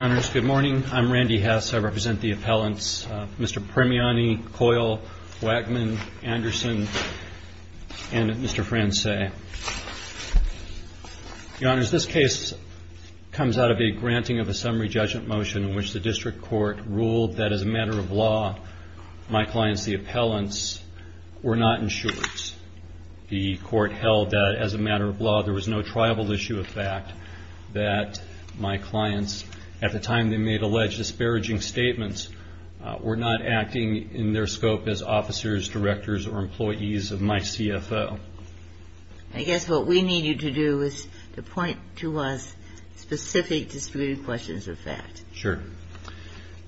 HONORS, GOOD MORNING. I'M RANDY HESS. I REPRESENT THE APPELLANTS, MR. PRIMIANI, COYLE, WAGMAN, ANDERSON, AND MR. FRANCEI. YOUR HONORS, THIS CASE COMES OUT OF A GRANTING OF A SUMMARY JUDGEMENT MOTION IN WHICH THE DISTRICT COURT RULED THAT AS A MATTER OF LAW, MY CLIENTS, THE APPELLANTS, WERE NOT INSURED. THE COURT HELD THAT AS A MATTER OF LAW, THERE WAS NO TRIBAL ISSUE OF FACT, THAT MY CLIENTS, AT THE TIME THEY MADE ALLEGED DISPARAGING STATEMENTS, WERE NOT ACTING IN THEIR SCOPE AS OFFICERS, DIRECTORS, OR EMPLOYEES OF MY CFO. I GUESS WHAT WE NEED YOU TO DO IS TO POINT TO US SPECIFIC DISPUTED QUESTIONS OF FACT. SURE.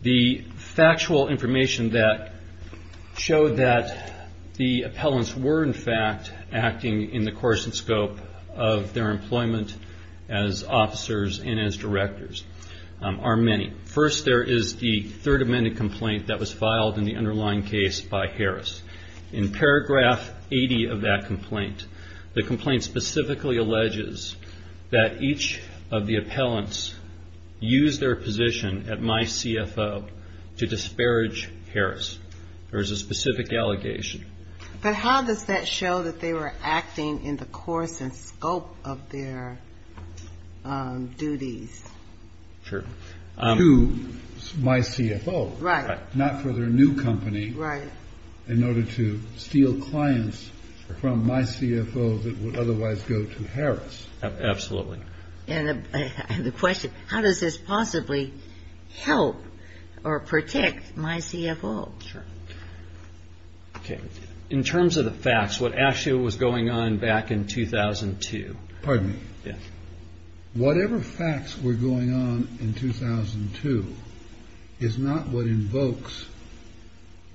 THE FACTUAL INFORMATION THAT SHOWED THAT THE APPELLANTS WERE IN FACT ACTING IN THE CORRESPONDENT SCOPE OF THEIR EMPLOYMENT AS OFFICERS AND AS DIRECTORS ARE MANY. FIRST, THERE IS THE THIRD AMENDMENT COMPLAINT THAT WAS FILED IN THE UNDERLYING CASE BY HARRIS. IN PARAGRAPH 80 OF THAT COMPLAINT, THE COMPLAINT SPECIFICALLY ALLEGES THAT EACH OF THE APPELLANTS USED THEIR POSITION AT MY CFO TO DISPARAGE HARRIS. THERE IS A SPECIFIC ALLEGATION. BUT HOW DOES THAT SHOW THAT THEY WERE ACTING IN THE CORRESPONDENT SCOPE OF THEIR DUTIES? SURE. TO MY CFO. RIGHT. NOT FOR THEIR NEW COMPANY. RIGHT. IN ORDER TO STEAL CLIENTS FROM MY CFO THAT WOULD OTHERWISE GO TO HARRIS. ABSOLUTELY. AND THE QUESTION, HOW DOES THIS POSSIBLY HELP OR PROTECT MY CFO? SURE. OKAY. IN TERMS OF THE FACTS, WHAT ACTUALLY WAS GOING ON BACK IN 2002. PARDON ME. YEAH. WHATEVER FACTS WERE GOING ON IN 2002 IS NOT WHAT INVOKES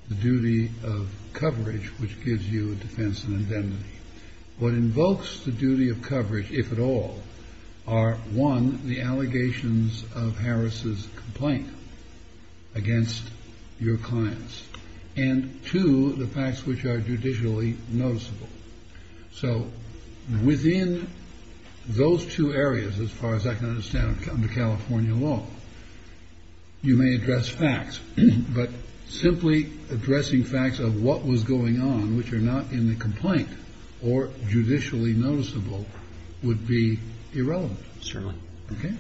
THE DUTY OF COVERAGE WHICH GIVES YOU A DEFENSE AND INDEMNITY. WHAT INVOKES THE DUTY OF COVERAGE, IF AT ALL, ARE ONE, THE ALLEGATIONS OF HARRIS' COMPLAINT AGAINST YOUR CLIENTS. AND TWO, THE FACTS WHICH ARE JUDICIALLY NOTICEABLE. SO WITHIN THOSE TWO AREAS, AS FAR AS I CAN UNDERSTAND UNDER CALIFORNIA LAW, YOU MAY ADDRESS FACTS. BUT SIMPLY ADDRESSING FACTS OF WHAT WAS GOING ON WHICH ARE NOT IN THE COMPLAINT OR JUDICIALLY NOTICEABLE WOULD BE IRRELEVANT. CERTAINLY. OKAY.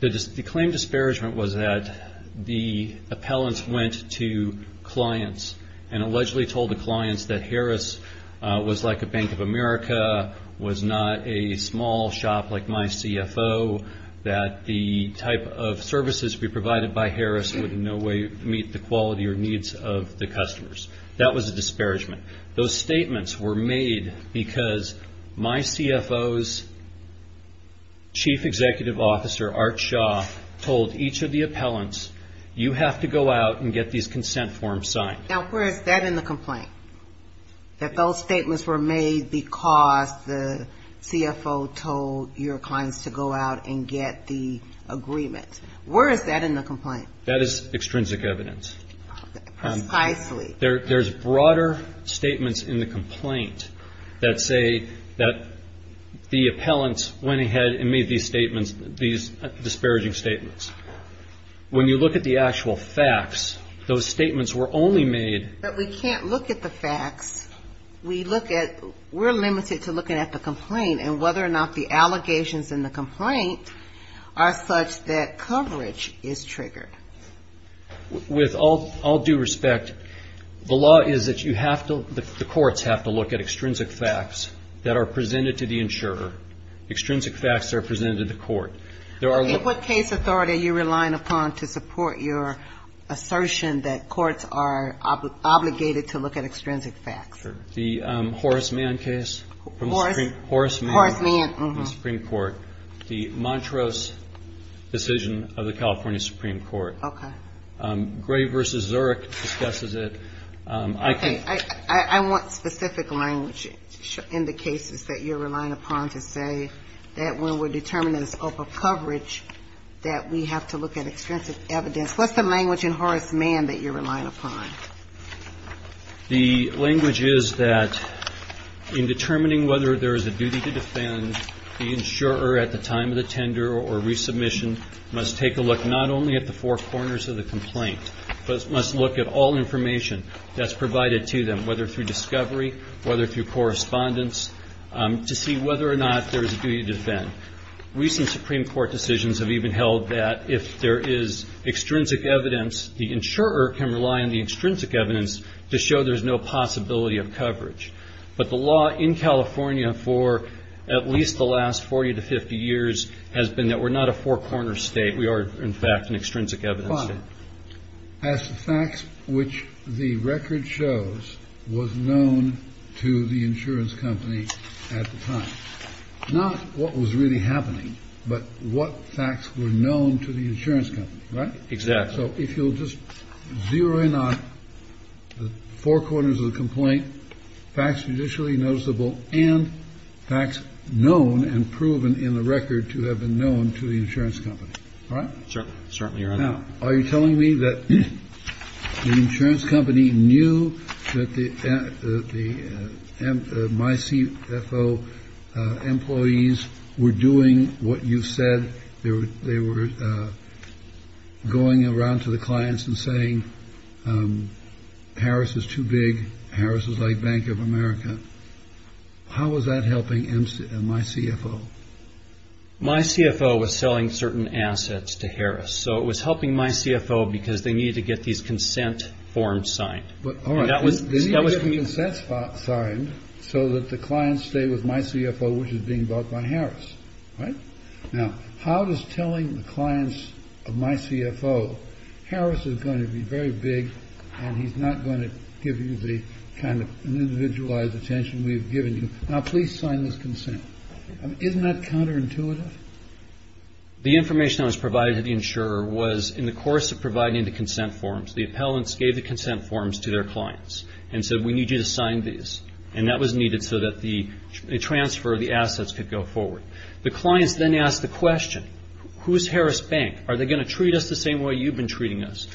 THE CLAIM DISPARAGEMENT WAS THAT THE APPELLANTS WENT TO CLIENTS AND ALLEGEDLY TOLD THE CLIENTS THAT HARRIS WAS LIKE A BANK OF AMERICA, WAS NOT A SMALL SHOP LIKE MY CFO, THAT THE TYPE OF SERVICES PROVIDED BY HARRIS WOULD IN NO WAY MEET THE QUALITY OR NEEDS OF THE CUSTOMERS. THAT WAS A DISPARAGEMENT. THOSE STATEMENTS WERE MADE BECAUSE MY CFO'S CHIEF EXECUTIVE OFFICER, ART SHAW, TOLD EACH OF THE APPELLANTS, YOU HAVE TO GO OUT AND GET THESE CONSENT FORMS SIGNED. NOW WHERE IS THAT IN THE COMPLAINT? THAT THOSE STATEMENTS WERE MADE BECAUSE THE CFO TOLD YOUR CLIENTS TO GO OUT AND GET THE AGREEMENT. WHERE IS THAT IN THE COMPLAINT? THAT IS EXTRINSIC EVIDENCE. THERE IS BROADER STATEMENTS IN THE COMPLAINT THAT SAY THAT THE APPELLANTS WENT AHEAD AND MADE THESE STATEMENTS, THESE DISPARAGING STATEMENTS. WHEN YOU LOOK AT THE ACTUAL FACTS, THOSE STATEMENTS WERE ONLY MADE. BUT WE CAN'T LOOK AT THE FACTS. WE'RE LIMITED TO LOOKING AT THE COMPLAINT AND WHETHER OR NOT THE ALLEGATIONS IN THE COMPLAINT ARE SUCH THAT COVERAGE IS TRIGGERED. WITH ALL DUE RESPECT, THE LAW IS THAT YOU HAVE TO, THE COURTS HAVE TO LOOK AT EXTRINSIC FACTS THAT ARE PRESENTED TO THE INSURER. EXTRINSIC FACTS ARE PRESENTED TO THE COURT. IN WHAT CASE AUTHORITY ARE YOU RELYING UPON TO SUPPORT YOUR ASSERTION THAT COURTS ARE OBLIGATED TO LOOK AT EXTRINSIC FACTS? The Horace Mann case. Horace Mann. From the Supreme Court. The Montrose decision of the California Supreme Court. Okay. Gray v. Zurich discusses it. Okay. I want specific language in the cases that you're relying upon to say that when we're determining scope of coverage, that we have to look at extrinsic evidence. What's the language in Horace Mann that you're relying upon? The language is that in determining whether there is a duty to defend, the insurer, at the time of the tender or resubmission, must take a look not only at the four corners of the complaint, but must look at all information that's provided to them, whether through discovery, whether through correspondence, to see whether or not there is a duty to defend. Recent Supreme Court decisions have even held that if there is extrinsic evidence, the insurer can rely on the extrinsic evidence to show there's no possibility of coverage. But the law in California for at least the last 40 to 50 years has been that we're not a four-corner state. We are, in fact, an extrinsic evidence state. As to facts which the record shows was known to the insurance company at the time, not what was really happening, but what facts were known to the insurance company, right? Exactly. So if you'll just zero in on the four corners of the complaint, facts judicially noticeable and facts known and proven in the record to have been known to the insurance company. All right? Certainly. Certainly. Now, are you telling me that the insurance company knew that the the my CFO employees were doing what you said they were going around to the clients and saying Harris is too big. Harris is like Bank of America. How was that helping my CFO? My CFO was selling certain assets to Harris. So it was helping my CFO because they need to get these consent forms signed. But that was that was the consent signed so that the clients stay with my CFO, which is being bought by Harris. Right now, how does telling the clients of my CFO Harris is going to be very big. And he's not going to give you the kind of individualized attention we've given you. Now, please sign this consent. Isn't that counterintuitive? The information that was provided to the insurer was in the course of providing the consent forms, the appellants gave the consent forms to their clients and said, we need you to sign these. And that was needed so that the transfer of the assets could go forward. The clients then asked the question, who is Harris Bank? Are they going to treat us the same way you've been treating us?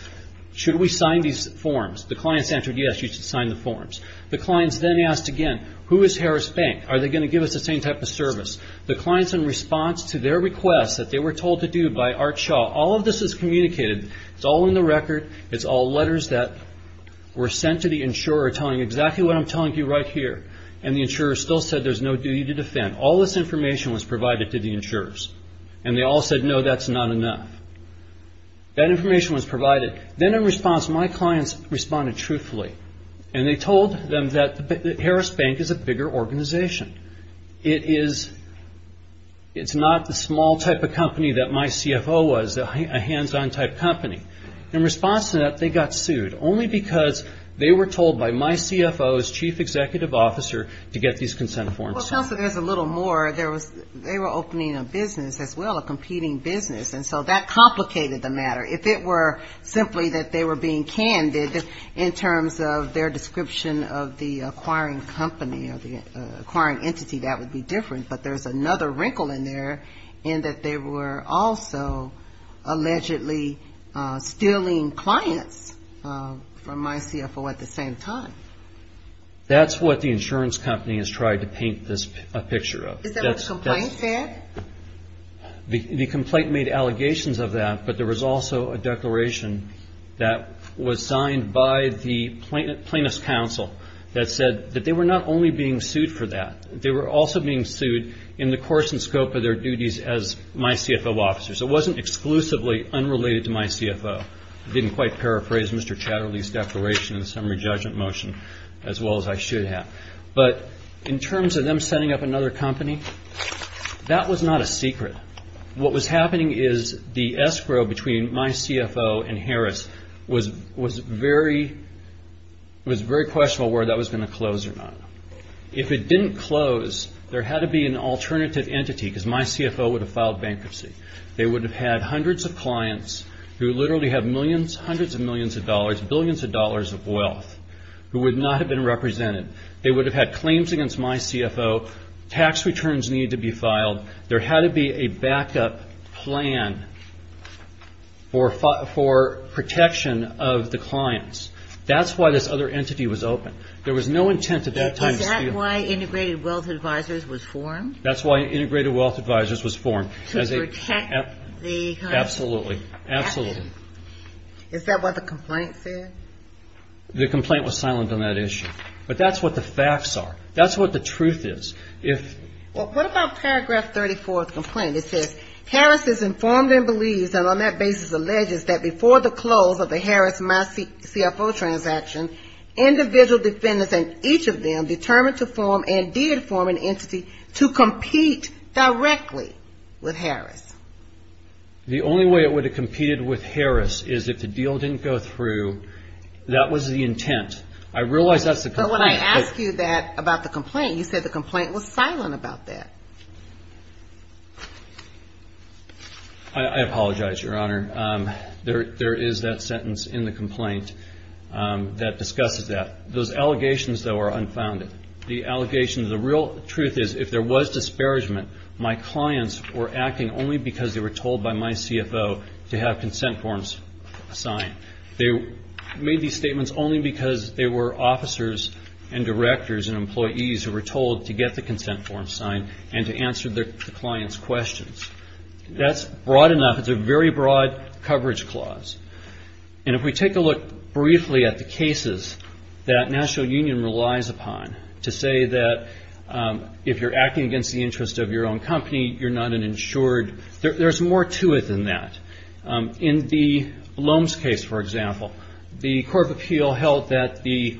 Should we sign these forms? The clients answered, yes, you should sign the forms. The clients then asked again, who is Harris Bank? Are they going to give us the same type of service? The clients, in response to their request that they were told to do by Art Shaw, all of this is communicated. It's all in the record. It's all letters that were sent to the insurer telling exactly what I'm telling you right here. And the insurer still said there's no duty to defend. All this information was provided to the insurers. And they all said, no, that's not enough. That information was provided. Then in response, my clients responded truthfully. And they told them that Harris Bank is a bigger organization. It's not the small type of company that my CFO was, a hands-on type company. In response to that, they got sued only because they were told by my CFO's chief executive officer to get these consent forms signed. Well, counselor, there's a little more. They were opening a business as well, a competing business. And so that complicated the matter. If it were simply that they were being candid in terms of their description of the acquiring company or the acquiring entity, that would be different. But there's another wrinkle in there in that they were also allegedly stealing clients from my CFO at the same time. That's what the insurance company has tried to paint a picture of. Is that what the complaint said? The complaint made allegations of that. But there was also a declaration that was signed by the plaintiff's counsel that said that they were not only being sued for that. They were also being sued in the course and scope of their duties as my CFO officers. It wasn't exclusively unrelated to my CFO. I didn't quite paraphrase Mr. Chatterley's declaration in the summary judgment motion as well as I should have. But in terms of them setting up another company, that was not a secret. What was happening is the escrow between my CFO and Harris was very questionable whether that was going to close or not. If it didn't close, there had to be an alternative entity because my CFO would have filed bankruptcy. They would have had hundreds of clients who literally have millions, hundreds of millions of dollars, billions of dollars of wealth who would not have been represented. They would have had claims against my CFO. Tax returns needed to be filed. There had to be a backup plan for protection of the clients. That's why this other entity was open. There was no intent at that time to steal. Is that why Integrated Wealth Advisors was formed? That's why Integrated Wealth Advisors was formed. To protect the company. Absolutely. Absolutely. Is that what the complaint said? The complaint was silent on that issue. But that's what the facts are. That's what the truth is. What about paragraph 34 of the complaint? It says, Harris is informed and believes and on that basis alleges that before the close of the Harris-my CFO transaction, individual defendants and each of them determined to form and did form an entity to compete directly with Harris. The only way it would have competed with Harris is if the deal didn't go through. That was the intent. I realize that's the complaint. But when I asked you that about the complaint, you said the complaint was silent about that. I apologize, Your Honor. There is that sentence in the complaint that discusses that. Those allegations, though, are unfounded. The allegations, the real truth is if there was disparagement, my clients were acting only because they were told by my CFO to have consent forms assigned. They made these statements only because they were officers and directors and employees who were told to get the consent forms signed and to answer the client's questions. That's broad enough. It's a very broad coverage clause. And if we take a look briefly at the cases that National Union relies upon to say that if you're acting against the interest of your own company, you're not an insured, there's more to it than that. In the Loehm's case, for example, the court of appeal held that the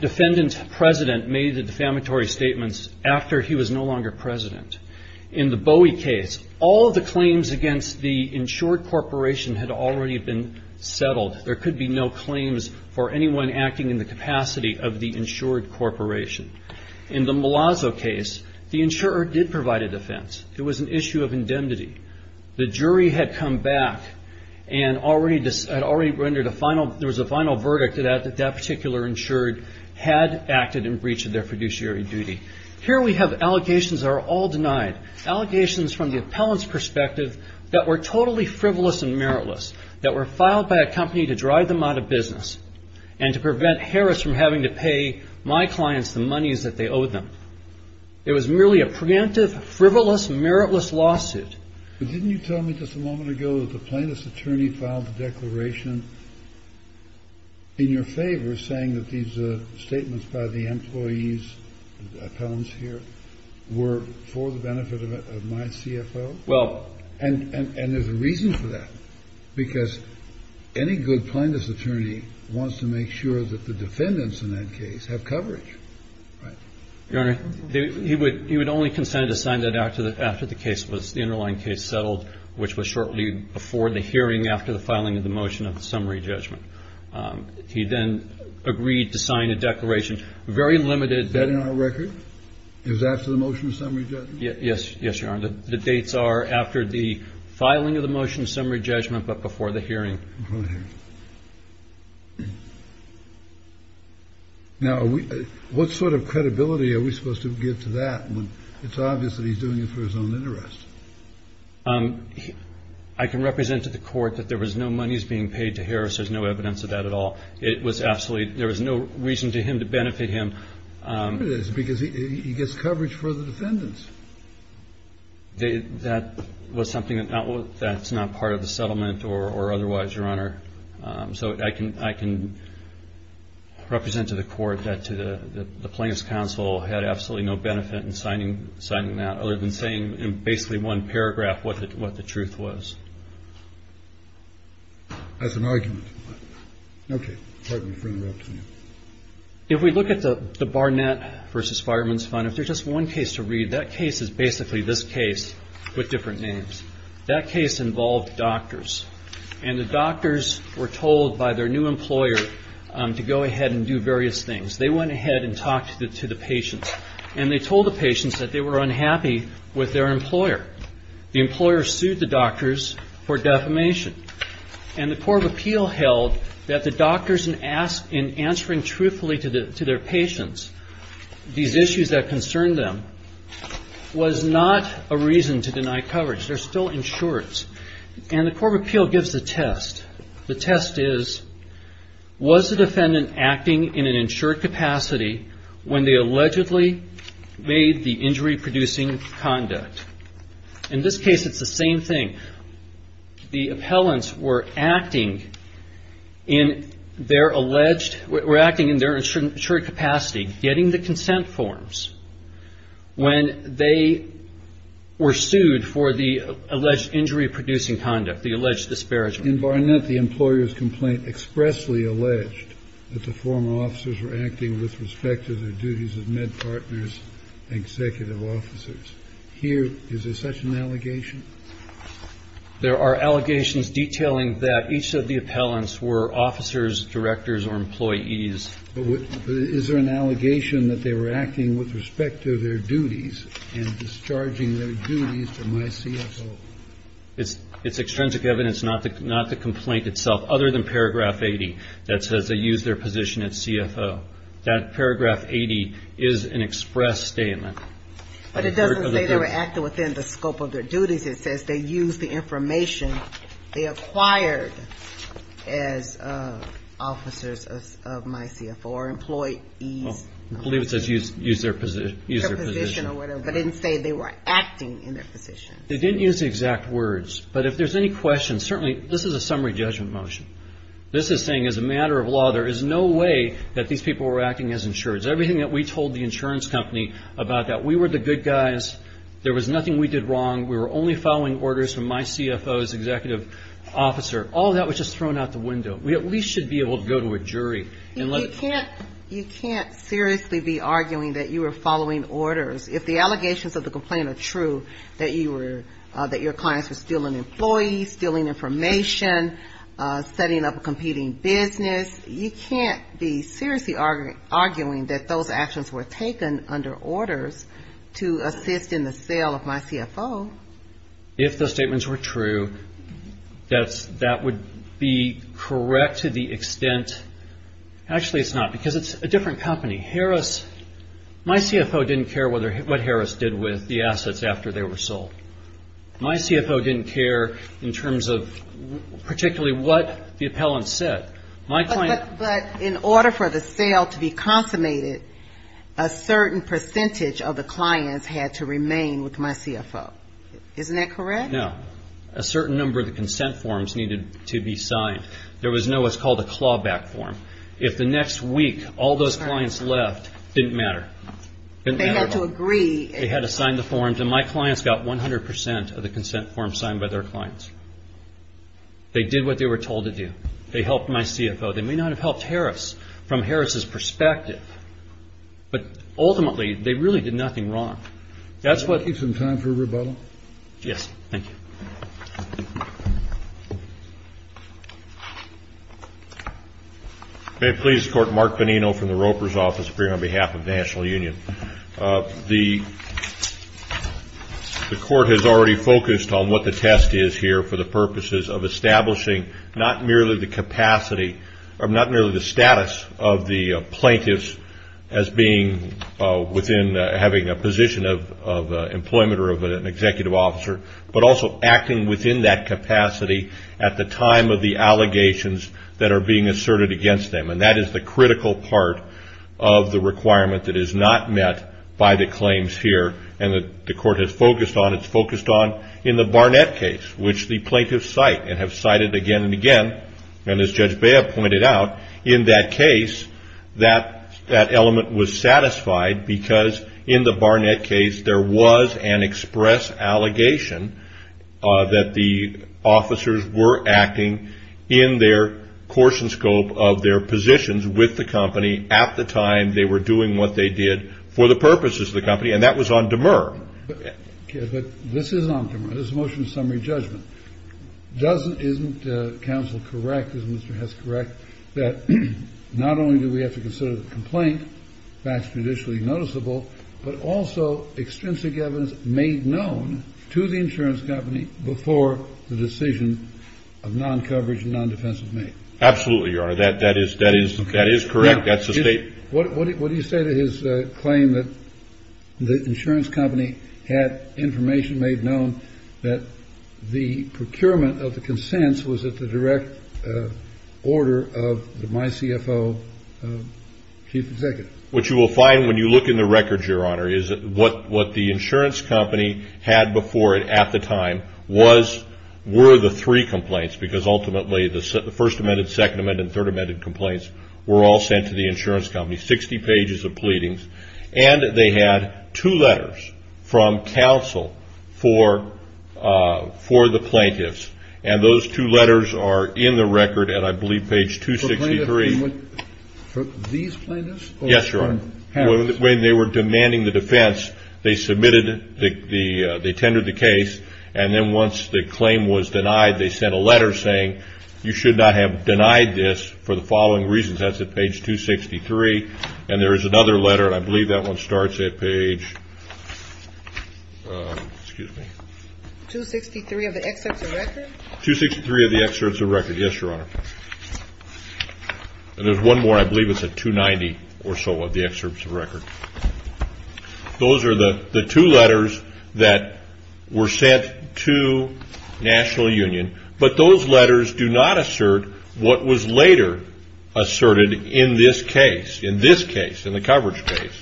defendant's president made the defamatory statements after he was no longer president. In the Bowie case, all the claims against the insured corporation had already been settled. There could be no claims for anyone acting in the capacity of the insured corporation. In the Malazzo case, the insurer did provide a defense. It was an issue of indemnity. The jury had come back and already rendered a final, there was a final verdict that that particular insured had acted in breach of their fiduciary duty. Here we have allegations that are all denied, allegations from the appellant's perspective that were totally frivolous and meritless, that were filed by a company to drive them out of business and to prevent Harris from having to pay my clients the monies that they owed them. It was merely a preemptive, frivolous, meritless lawsuit. Didn't you tell me just a moment ago that the plaintiff's attorney filed a declaration in your favor saying that these statements by the employees, the appellants here, were for the benefit of my CFO? Well. And there's a reason for that. Because any good plaintiff's attorney wants to make sure that the defendants in that case have coverage. Your Honor, he would only consent to sign that after the case was, the underlying case settled, which was shortly before the hearing after the filing of the motion of the summary judgment. He then agreed to sign a declaration, very limited. Is that in our record? It was after the motion of summary judgment? Yes, Your Honor. The dates are after the filing of the motion of summary judgment but before the hearing. Before the hearing. Now, what sort of credibility are we supposed to give to that when it's obvious that he's doing it for his own interest? I can represent to the court that there was no monies being paid to Harris. There's no evidence of that at all. It was absolutely, there was no reason to him to benefit him. There is because he gets coverage for the defendants. That was something that's not part of the settlement or otherwise, Your Honor. So I can represent to the court that the plaintiff's counsel had absolutely no benefit in signing that other than saying in basically one paragraph what the truth was. That's an argument. Okay. Pardon me for interrupting you. If we look at the Barnett v. Fireman's Fund, if there's just one case to read, that case is basically this case with different names. That case involved doctors. And the doctors were told by their new employer to go ahead and do various things. They went ahead and talked to the patients. And they told the patients that they were unhappy with their employer. The employer sued the doctors for defamation. And the court of appeal held that the doctors in answering truthfully to their patients these issues that concerned them was not a reason to deny coverage. They're still insurers. And the court of appeal gives a test. The test is, was the defendant acting in an insured capacity when they allegedly made the injury-producing conduct? In this case, it's the same thing. The appellants were acting in their alleged, were acting in their insured capacity, getting the consent forms when they were sued for the alleged injury-producing conduct, the alleged disparagement. In Barnett, the employer's complaint expressly alleged that the former officers were acting with respect to their duties as med partners and executive officers. Here, is there such an allegation? There are allegations detailing that each of the appellants were officers, directors, or employees. But is there an allegation that they were acting with respect to their duties and discharging their duties to my CFO? It's extrinsic evidence, not the complaint itself, other than paragraph 80 that says they used their position at CFO. That paragraph 80 is an express statement. But it doesn't say they were acting within the scope of their duties. It says they used the information they acquired as officers of my CFO or employees. I believe it says use their position. Use their position or whatever. But it didn't say they were acting in their position. They didn't use the exact words. But if there's any questions, certainly, this is a summary judgment motion. This is saying as a matter of law, there is no way that these people were acting as insureds. Everything that we told the insurance company about that, we were the good guys. There was nothing we did wrong. We were only following orders from my CFO's executive officer. All of that was just thrown out the window. We at least should be able to go to a jury. You can't seriously be arguing that you were following orders if the allegations of the complaint are true, that your clients were stealing employees, stealing information, setting up a competing business. You can't be seriously arguing that those actions were taken under orders to assist in the sale of my CFO. If the statements were true, that would be correct to the extent. Actually, it's not because it's a different company. Harris, my CFO didn't care what Harris did with the assets after they were sold. My CFO didn't care in terms of particularly what the appellant said. But in order for the sale to be consummated, a certain percentage of the clients had to remain with my CFO. Isn't that correct? No. A certain number of the consent forms needed to be signed. There was no what's called a clawback form. If the next week all those clients left, it didn't matter. They had to agree. They had to sign the forms, and my clients got 100 percent of the consent forms signed by their clients. They did what they were told to do. They helped my CFO. They may not have helped Harris from Harris' perspective, but ultimately, they really did nothing wrong. That's what- Do you have some time for rebuttal? Yes. Thank you. May it please the Court, Mark Bonino from the Roper's Office, appearing on behalf of the National Union. The Court has already focused on what the test is here for the purposes of establishing not merely the capacity or not merely the status of the plaintiffs as being within having a position of employment or of an executive officer, but also acting within that capacity at the time of the allegations that are being asserted against them. And that is the critical part of the requirement that is not met by the claims here and that the Court has focused on. It's focused on in the Barnett case, which the plaintiffs cite and have cited again and again. And as Judge Bea pointed out, in that case, that element was satisfied because in the Barnett case, there was an express allegation that the officers were acting in their course and scope of their positions with the company at the time they were doing what they did for the purposes of the company. And that was on demur. But this is on demur. This is a motion of summary judgment. Isn't counsel correct, isn't Mr. Hess correct, that not only do we have to consider the complaint, facts traditionally noticeable, but also extrinsic evidence made known to the insurance company before the decision of non-coverage and non-defensive made? Absolutely, Your Honor. That is correct. That's the state. What do you say to his claim that the insurance company had information made known that the procurement of the consents was at the direct order of the MyCFO chief executive? What you will find when you look in the records, Your Honor, is that what the insurance company had before it at the time were the three complaints, because ultimately the First Amendment, Second Amendment, and Third Amendment complaints were all sent to the insurance company, 60 pages of pleadings. And they had two letters from counsel for the plaintiffs. And those two letters are in the record, and I believe page 263. For these plaintiffs? Yes, Your Honor. When they were demanding the defense, they submitted, they tendered the case. And then once the claim was denied, they sent a letter saying, you should not have denied this for the following reasons. That's at page 263. And there is another letter, and I believe that one starts at page, excuse me. 263 of the excerpts of record? 263 of the excerpts of record. Yes, Your Honor. And there's one more. I believe it's at 290 or so of the excerpts of record. Those are the two letters that were sent to National Union. But those letters do not assert what was later asserted in this case, in this case, in the coverage case.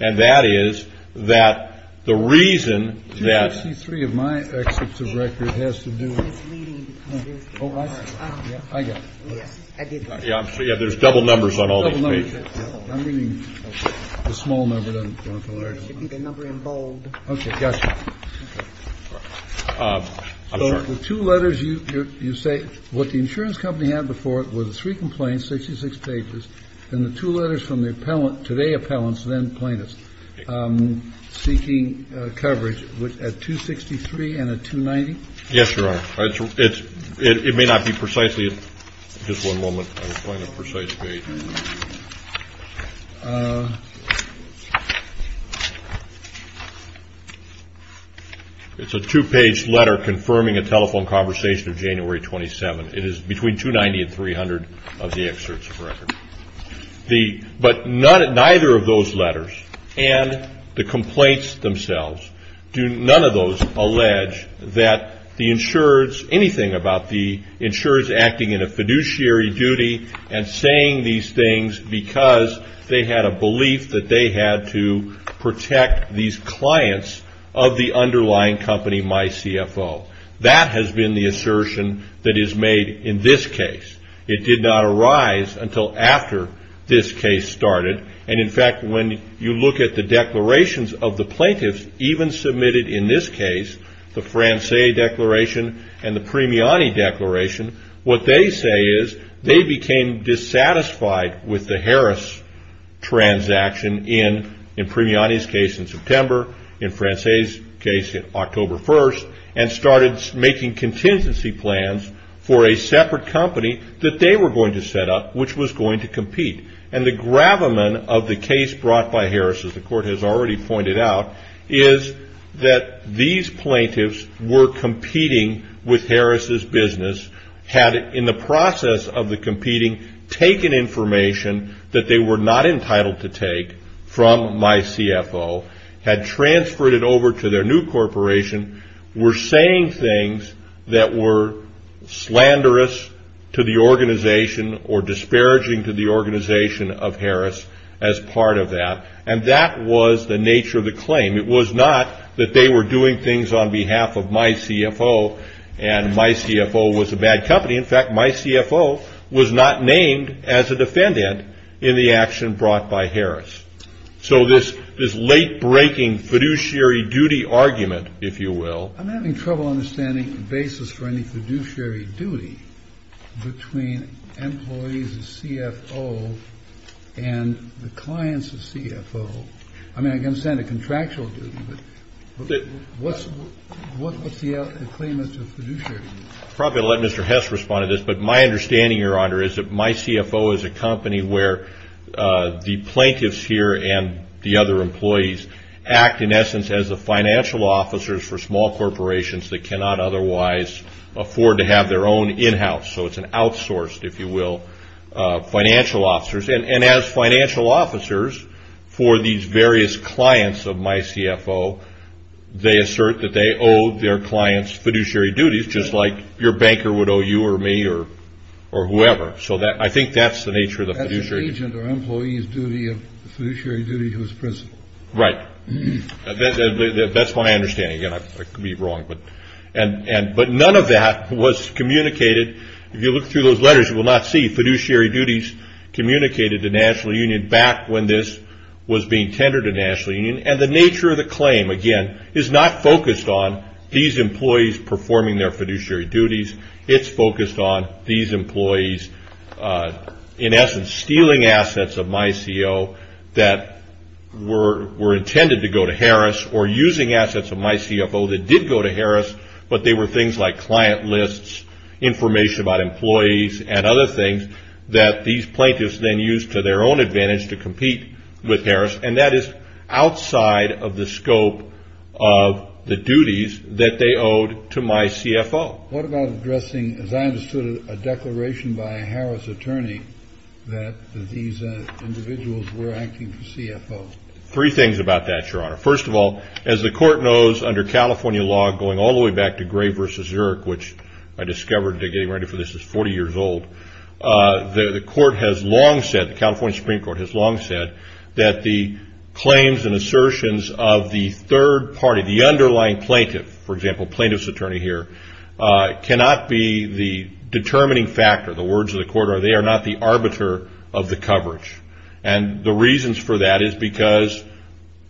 And that is that the reason that. 263 of my excerpts of record has to do with. Oh, I got it. Yes, I did. Yeah, there's double numbers on all these pages. I'm reading the small number, not the large number. It should be the number in bold. Okay, gotcha. I'm sorry. The two letters you say, what the insurance company had before it were the three complaints, 66 pages, and the two letters from the appellant, today appellants, then plaintiffs, seeking coverage at 263 and at 290? Yes, Your Honor. It may not be precisely. Just one moment. I'll find a precise page. It's a two-page letter confirming a telephone conversation of January 27. It is between 290 and 300 of the excerpts of record. But neither of those letters, and the complaints themselves, do none of those allege that the insurers, anything about the insurers acting in a fiduciary duty and saying these things because they had a belief that they had to protect these clients of the underlying company, MyCFO. That has been the assertion that is made in this case. It did not arise until after this case started. And, in fact, when you look at the declarations of the plaintiffs even submitted in this case, the Francais declaration and the Premiani declaration, what they say is they became dissatisfied with the Harris transaction in Premiani's case in September, in Francais' case in October 1st, and started making contingency plans for a separate company that they were going to set up, which was going to compete. And the gravamen of the case brought by Harris, as the Court has already pointed out, is that these plaintiffs were competing with Harris' business, had, in the process of the competing, taken information that they were not entitled to take from MyCFO, had transferred it over to their new corporation, were saying things that were slanderous to the organization or disparaging to the organization of Harris as part of that. And that was the nature of the claim. It was not that they were doing things on behalf of MyCFO and MyCFO was a bad company. In fact, MyCFO was not named as a defendant in the action brought by Harris. So this late-breaking fiduciary duty argument, if you will. I'm having trouble understanding the basis for any fiduciary duty between employees of CFO and the clients of CFO. I mean, I can understand a contractual duty, but what's the claimant's fiduciary duty? I'll probably let Mr. Hess respond to this, but my understanding, Your Honor, is that MyCFO is a company where the plaintiffs here and the other employees act, in essence, as the financial officers for small corporations that cannot otherwise afford to have their own in-house. So it's an outsourced, if you will, financial officers. And as financial officers for these various clients of MyCFO, they assert that they owe their clients fiduciary duties, just like your banker would owe you or me or whoever. So I think that's the nature of the fiduciary duty. That's the agent or employee's fiduciary duty whose principle. Right. That's my understanding. Again, I could be wrong, but none of that was communicated. If you look through those letters, you will not see fiduciary duties communicated to National Union back when this was being tendered to National Union. And the nature of the claim, again, is not focused on these employees performing their fiduciary duties. It's focused on these employees, in essence, stealing assets of MyCO that were intended to go to Harris or using assets of MyCFO that did go to Harris, but they were things like client lists, information about employees and other things that these plaintiffs then used to their own advantage to compete with Harris. And that is outside of the scope of the duties that they owed to MyCFO. What about addressing, as I understood it, a declaration by a Harris attorney that these individuals were acting for CFO? Three things about that, Your Honor. First of all, as the court knows under California law, going all the way back to Gray v. Zurich, which I discovered getting ready for this is 40 years old, the court has long said, the California Supreme Court has long said that the claims and assertions of the third party, the underlying plaintiff, for example, plaintiff's attorney here, cannot be the determining factor. The words of the court are they are not the arbiter of the coverage. And the reasons for that is because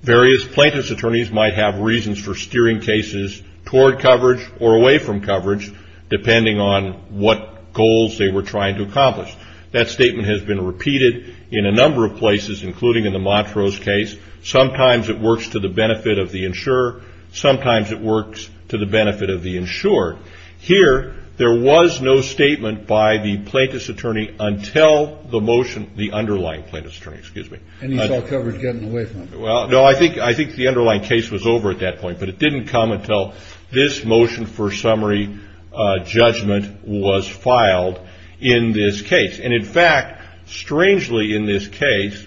various plaintiff's attorneys might have reasons for steering cases toward coverage or away from coverage depending on what goals they were trying to accomplish. That statement has been repeated in a number of places, including in the Montrose case. Sometimes it works to the benefit of the insurer. Sometimes it works to the benefit of the insured. Here there was no statement by the plaintiff's attorney until the motion, the underlying plaintiff's attorney, excuse me. And you saw coverage getting away from it. Well, no, I think the underlying case was over at that point, but it didn't come until this motion for summary judgment was filed in this case. And, in fact, strangely in this case,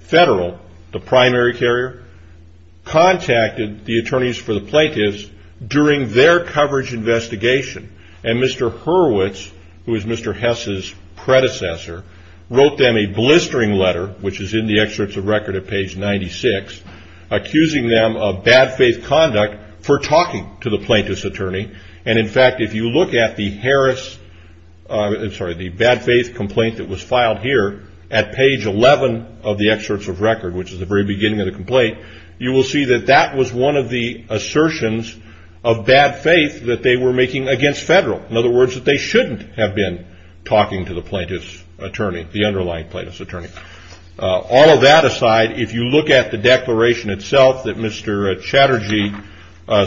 Federal, the primary carrier, contacted the attorneys for the plaintiffs during their coverage investigation. And Mr. Hurwitz, who is Mr. Hess's predecessor, wrote them a blistering letter, which is in the excerpts of record at page 96, accusing them of bad faith conduct for talking to the plaintiff's attorney. And, in fact, if you look at the Harris, I'm sorry, the bad faith complaint that was filed here at page 11 of the excerpts of record, which is the very beginning of the complaint, you will see that that was one of the assertions of bad faith that they were making against Federal. In other words, that they shouldn't have been talking to the plaintiff's attorney, the underlying plaintiff's attorney. All of that aside, if you look at the declaration itself that Mr. Chatterjee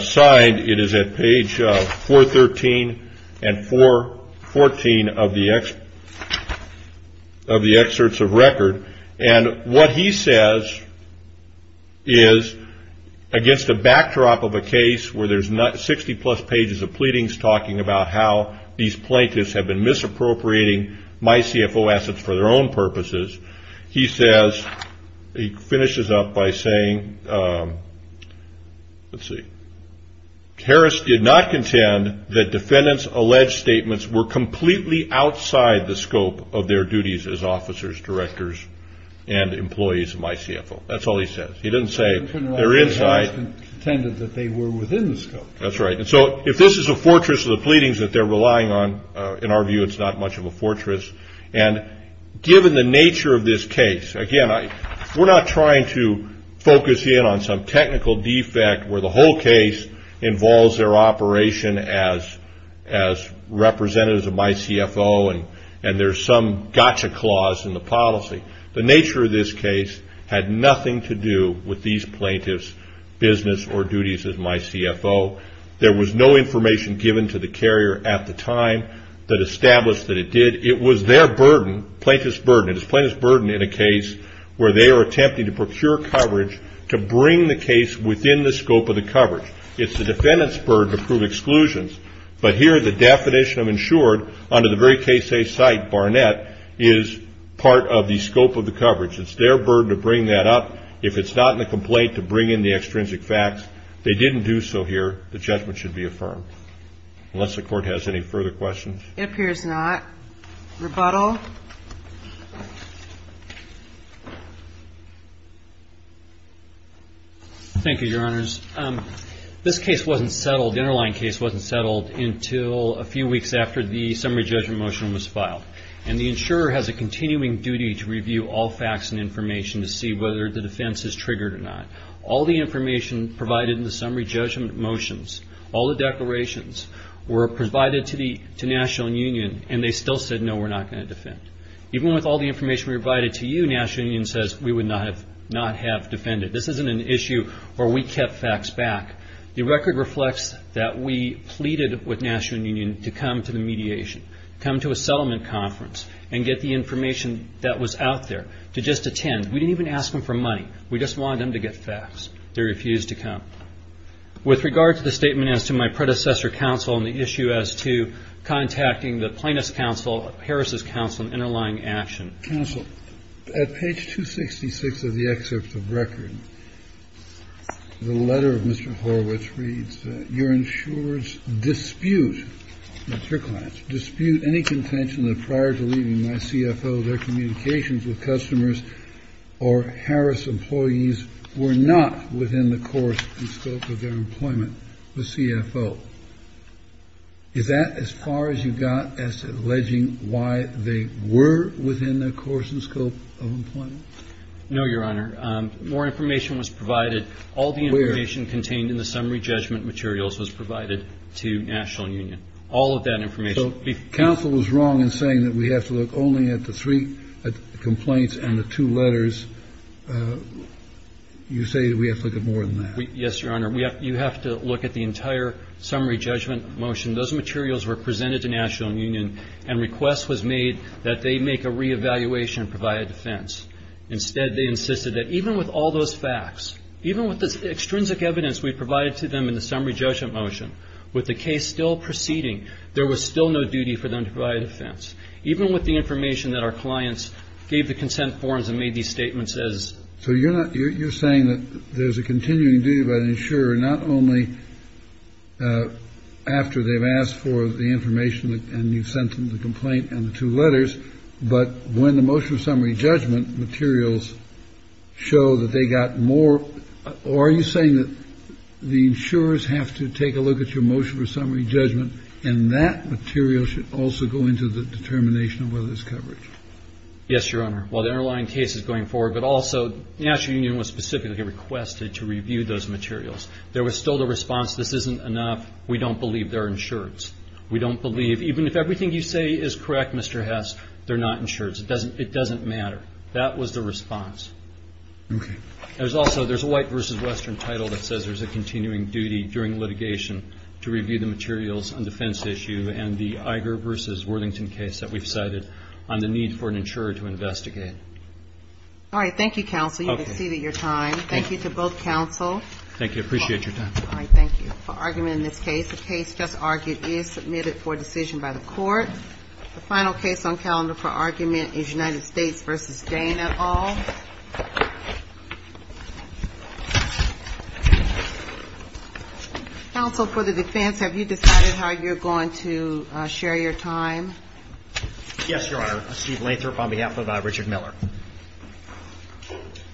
signed, it is at page 413 and 414 of the excerpts of record. And what he says is, against a backdrop of a case where there's 60 plus pages of pleadings talking about how these plaintiffs have been misappropriating my CFO assets for their own purposes, he says, he finishes up by saying, let's see, Harris did not contend that defendants' alleged statements were completely outside the scope of their duties as officers, directors, and employees of my CFO. That's all he says. He didn't say they're inside. They pretended that they were within the scope. That's right. And so if this is a fortress of the pleadings that they're relying on, in our view, it's not much of a fortress. And given the nature of this case, again, we're not trying to focus in on some technical defect where the whole case involves their operation as representatives of my CFO and there's some gotcha clause in the policy. The nature of this case had nothing to do with these plaintiffs' business or duties as my CFO. There was no information given to the carrier at the time that established that it did. It was their burden, plaintiff's burden. And it's plaintiff's burden in a case where they are attempting to procure coverage to bring the case within the scope of the coverage. It's the defendant's burden to prove exclusions. But here the definition of insured under the very case they cite, Barnett, is part of the scope of the coverage. It's their burden to bring that up. If it's not in the complaint to bring in the extrinsic facts, they didn't do so here, the judgment should be affirmed. Unless the Court has any further questions. It appears not. Rebuttal. Thank you, Your Honors. This case wasn't settled, the interline case wasn't settled until a few weeks after the summary judgment motion was filed. And the insurer has a continuing duty to review all facts and information to see whether the defense is triggered or not. All the information provided in the summary judgment motions, all the declarations were provided to National and Union and they still said no, we're not going to defend. Even with all the information provided to you, National and Union says we would not have defended. This isn't an issue where we kept facts back. The record reflects that we pleaded with National and Union to come to the mediation, come to a settlement conference and get the information that was out there to just attend. We didn't even ask them for money. We just wanted them to get facts. They refused to come. With regard to the statement as to my predecessor counsel and the issue as to contacting the plaintiff's counsel, Harris's counsel and interlying action. Counsel, at page 266 of the excerpt of the record, the letter of Mr. Horowitz reads that your insurer's dispute, that's your client's, dispute any contention that prior to leaving my CFO, their communications with customers or Harris employees were not within the course and scope of their employment with CFO. Is that as far as you got as to alleging why they were within the course and scope of employment? No, Your Honor. More information was provided. All the information contained in the summary judgment materials was provided to National and Union. All of that information. So counsel was wrong in saying that we have to look only at the three complaints and the two letters. You say that we have to look at more than that. Yes, Your Honor. You have to look at the entire summary judgment motion. Those materials were presented to National and Union, and request was made that they make a reevaluation and provide a defense. Instead, they insisted that even with all those facts, even with the extrinsic evidence we provided to them in the summary judgment motion, with the case still proceeding, there was still no duty for them to provide a defense, even with the information that our clients gave the consent forms and made these statements as. So, Your Honor, you're saying that there's a continuing duty by the insurer not only after they've asked for the information and you sent them the complaint and the two letters, but when the motion of summary judgment materials show that they got more. So are you saying that the insurers have to take a look at your motion for summary judgment and that material should also go into the determination of whether there's coverage? Yes, Your Honor. While the underlying case is going forward, but also National and Union was specifically requested to review those materials. There was still the response, this isn't enough. We don't believe they're insured. We don't believe, even if everything you say is correct, Mr. Hess, they're not insured. It doesn't matter. That was the response. Okay. There's also, there's a White v. Western title that says there's a continuing duty during litigation to review the materials on defense issue and the Iger v. Worthington case that we've cited on the need for an insurer to investigate. All right. Thank you, counsel. You've exceeded your time. Thank you to both counsel. Thank you. I appreciate your time. All right. Thank you. For argument in this case, the case just argued is submitted for decision by the court. The final case on calendar for argument is United States v. Dane et al. Counsel, for the defense, have you decided how you're going to share your time? Yes, Your Honor. Steve Lathrop on behalf of Richard Miller.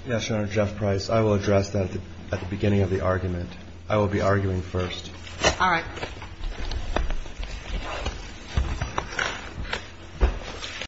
Yes, Your Honor. Jeff Price. I will address that at the beginning of the argument. I will be arguing first. All right. Thank you. Thank you.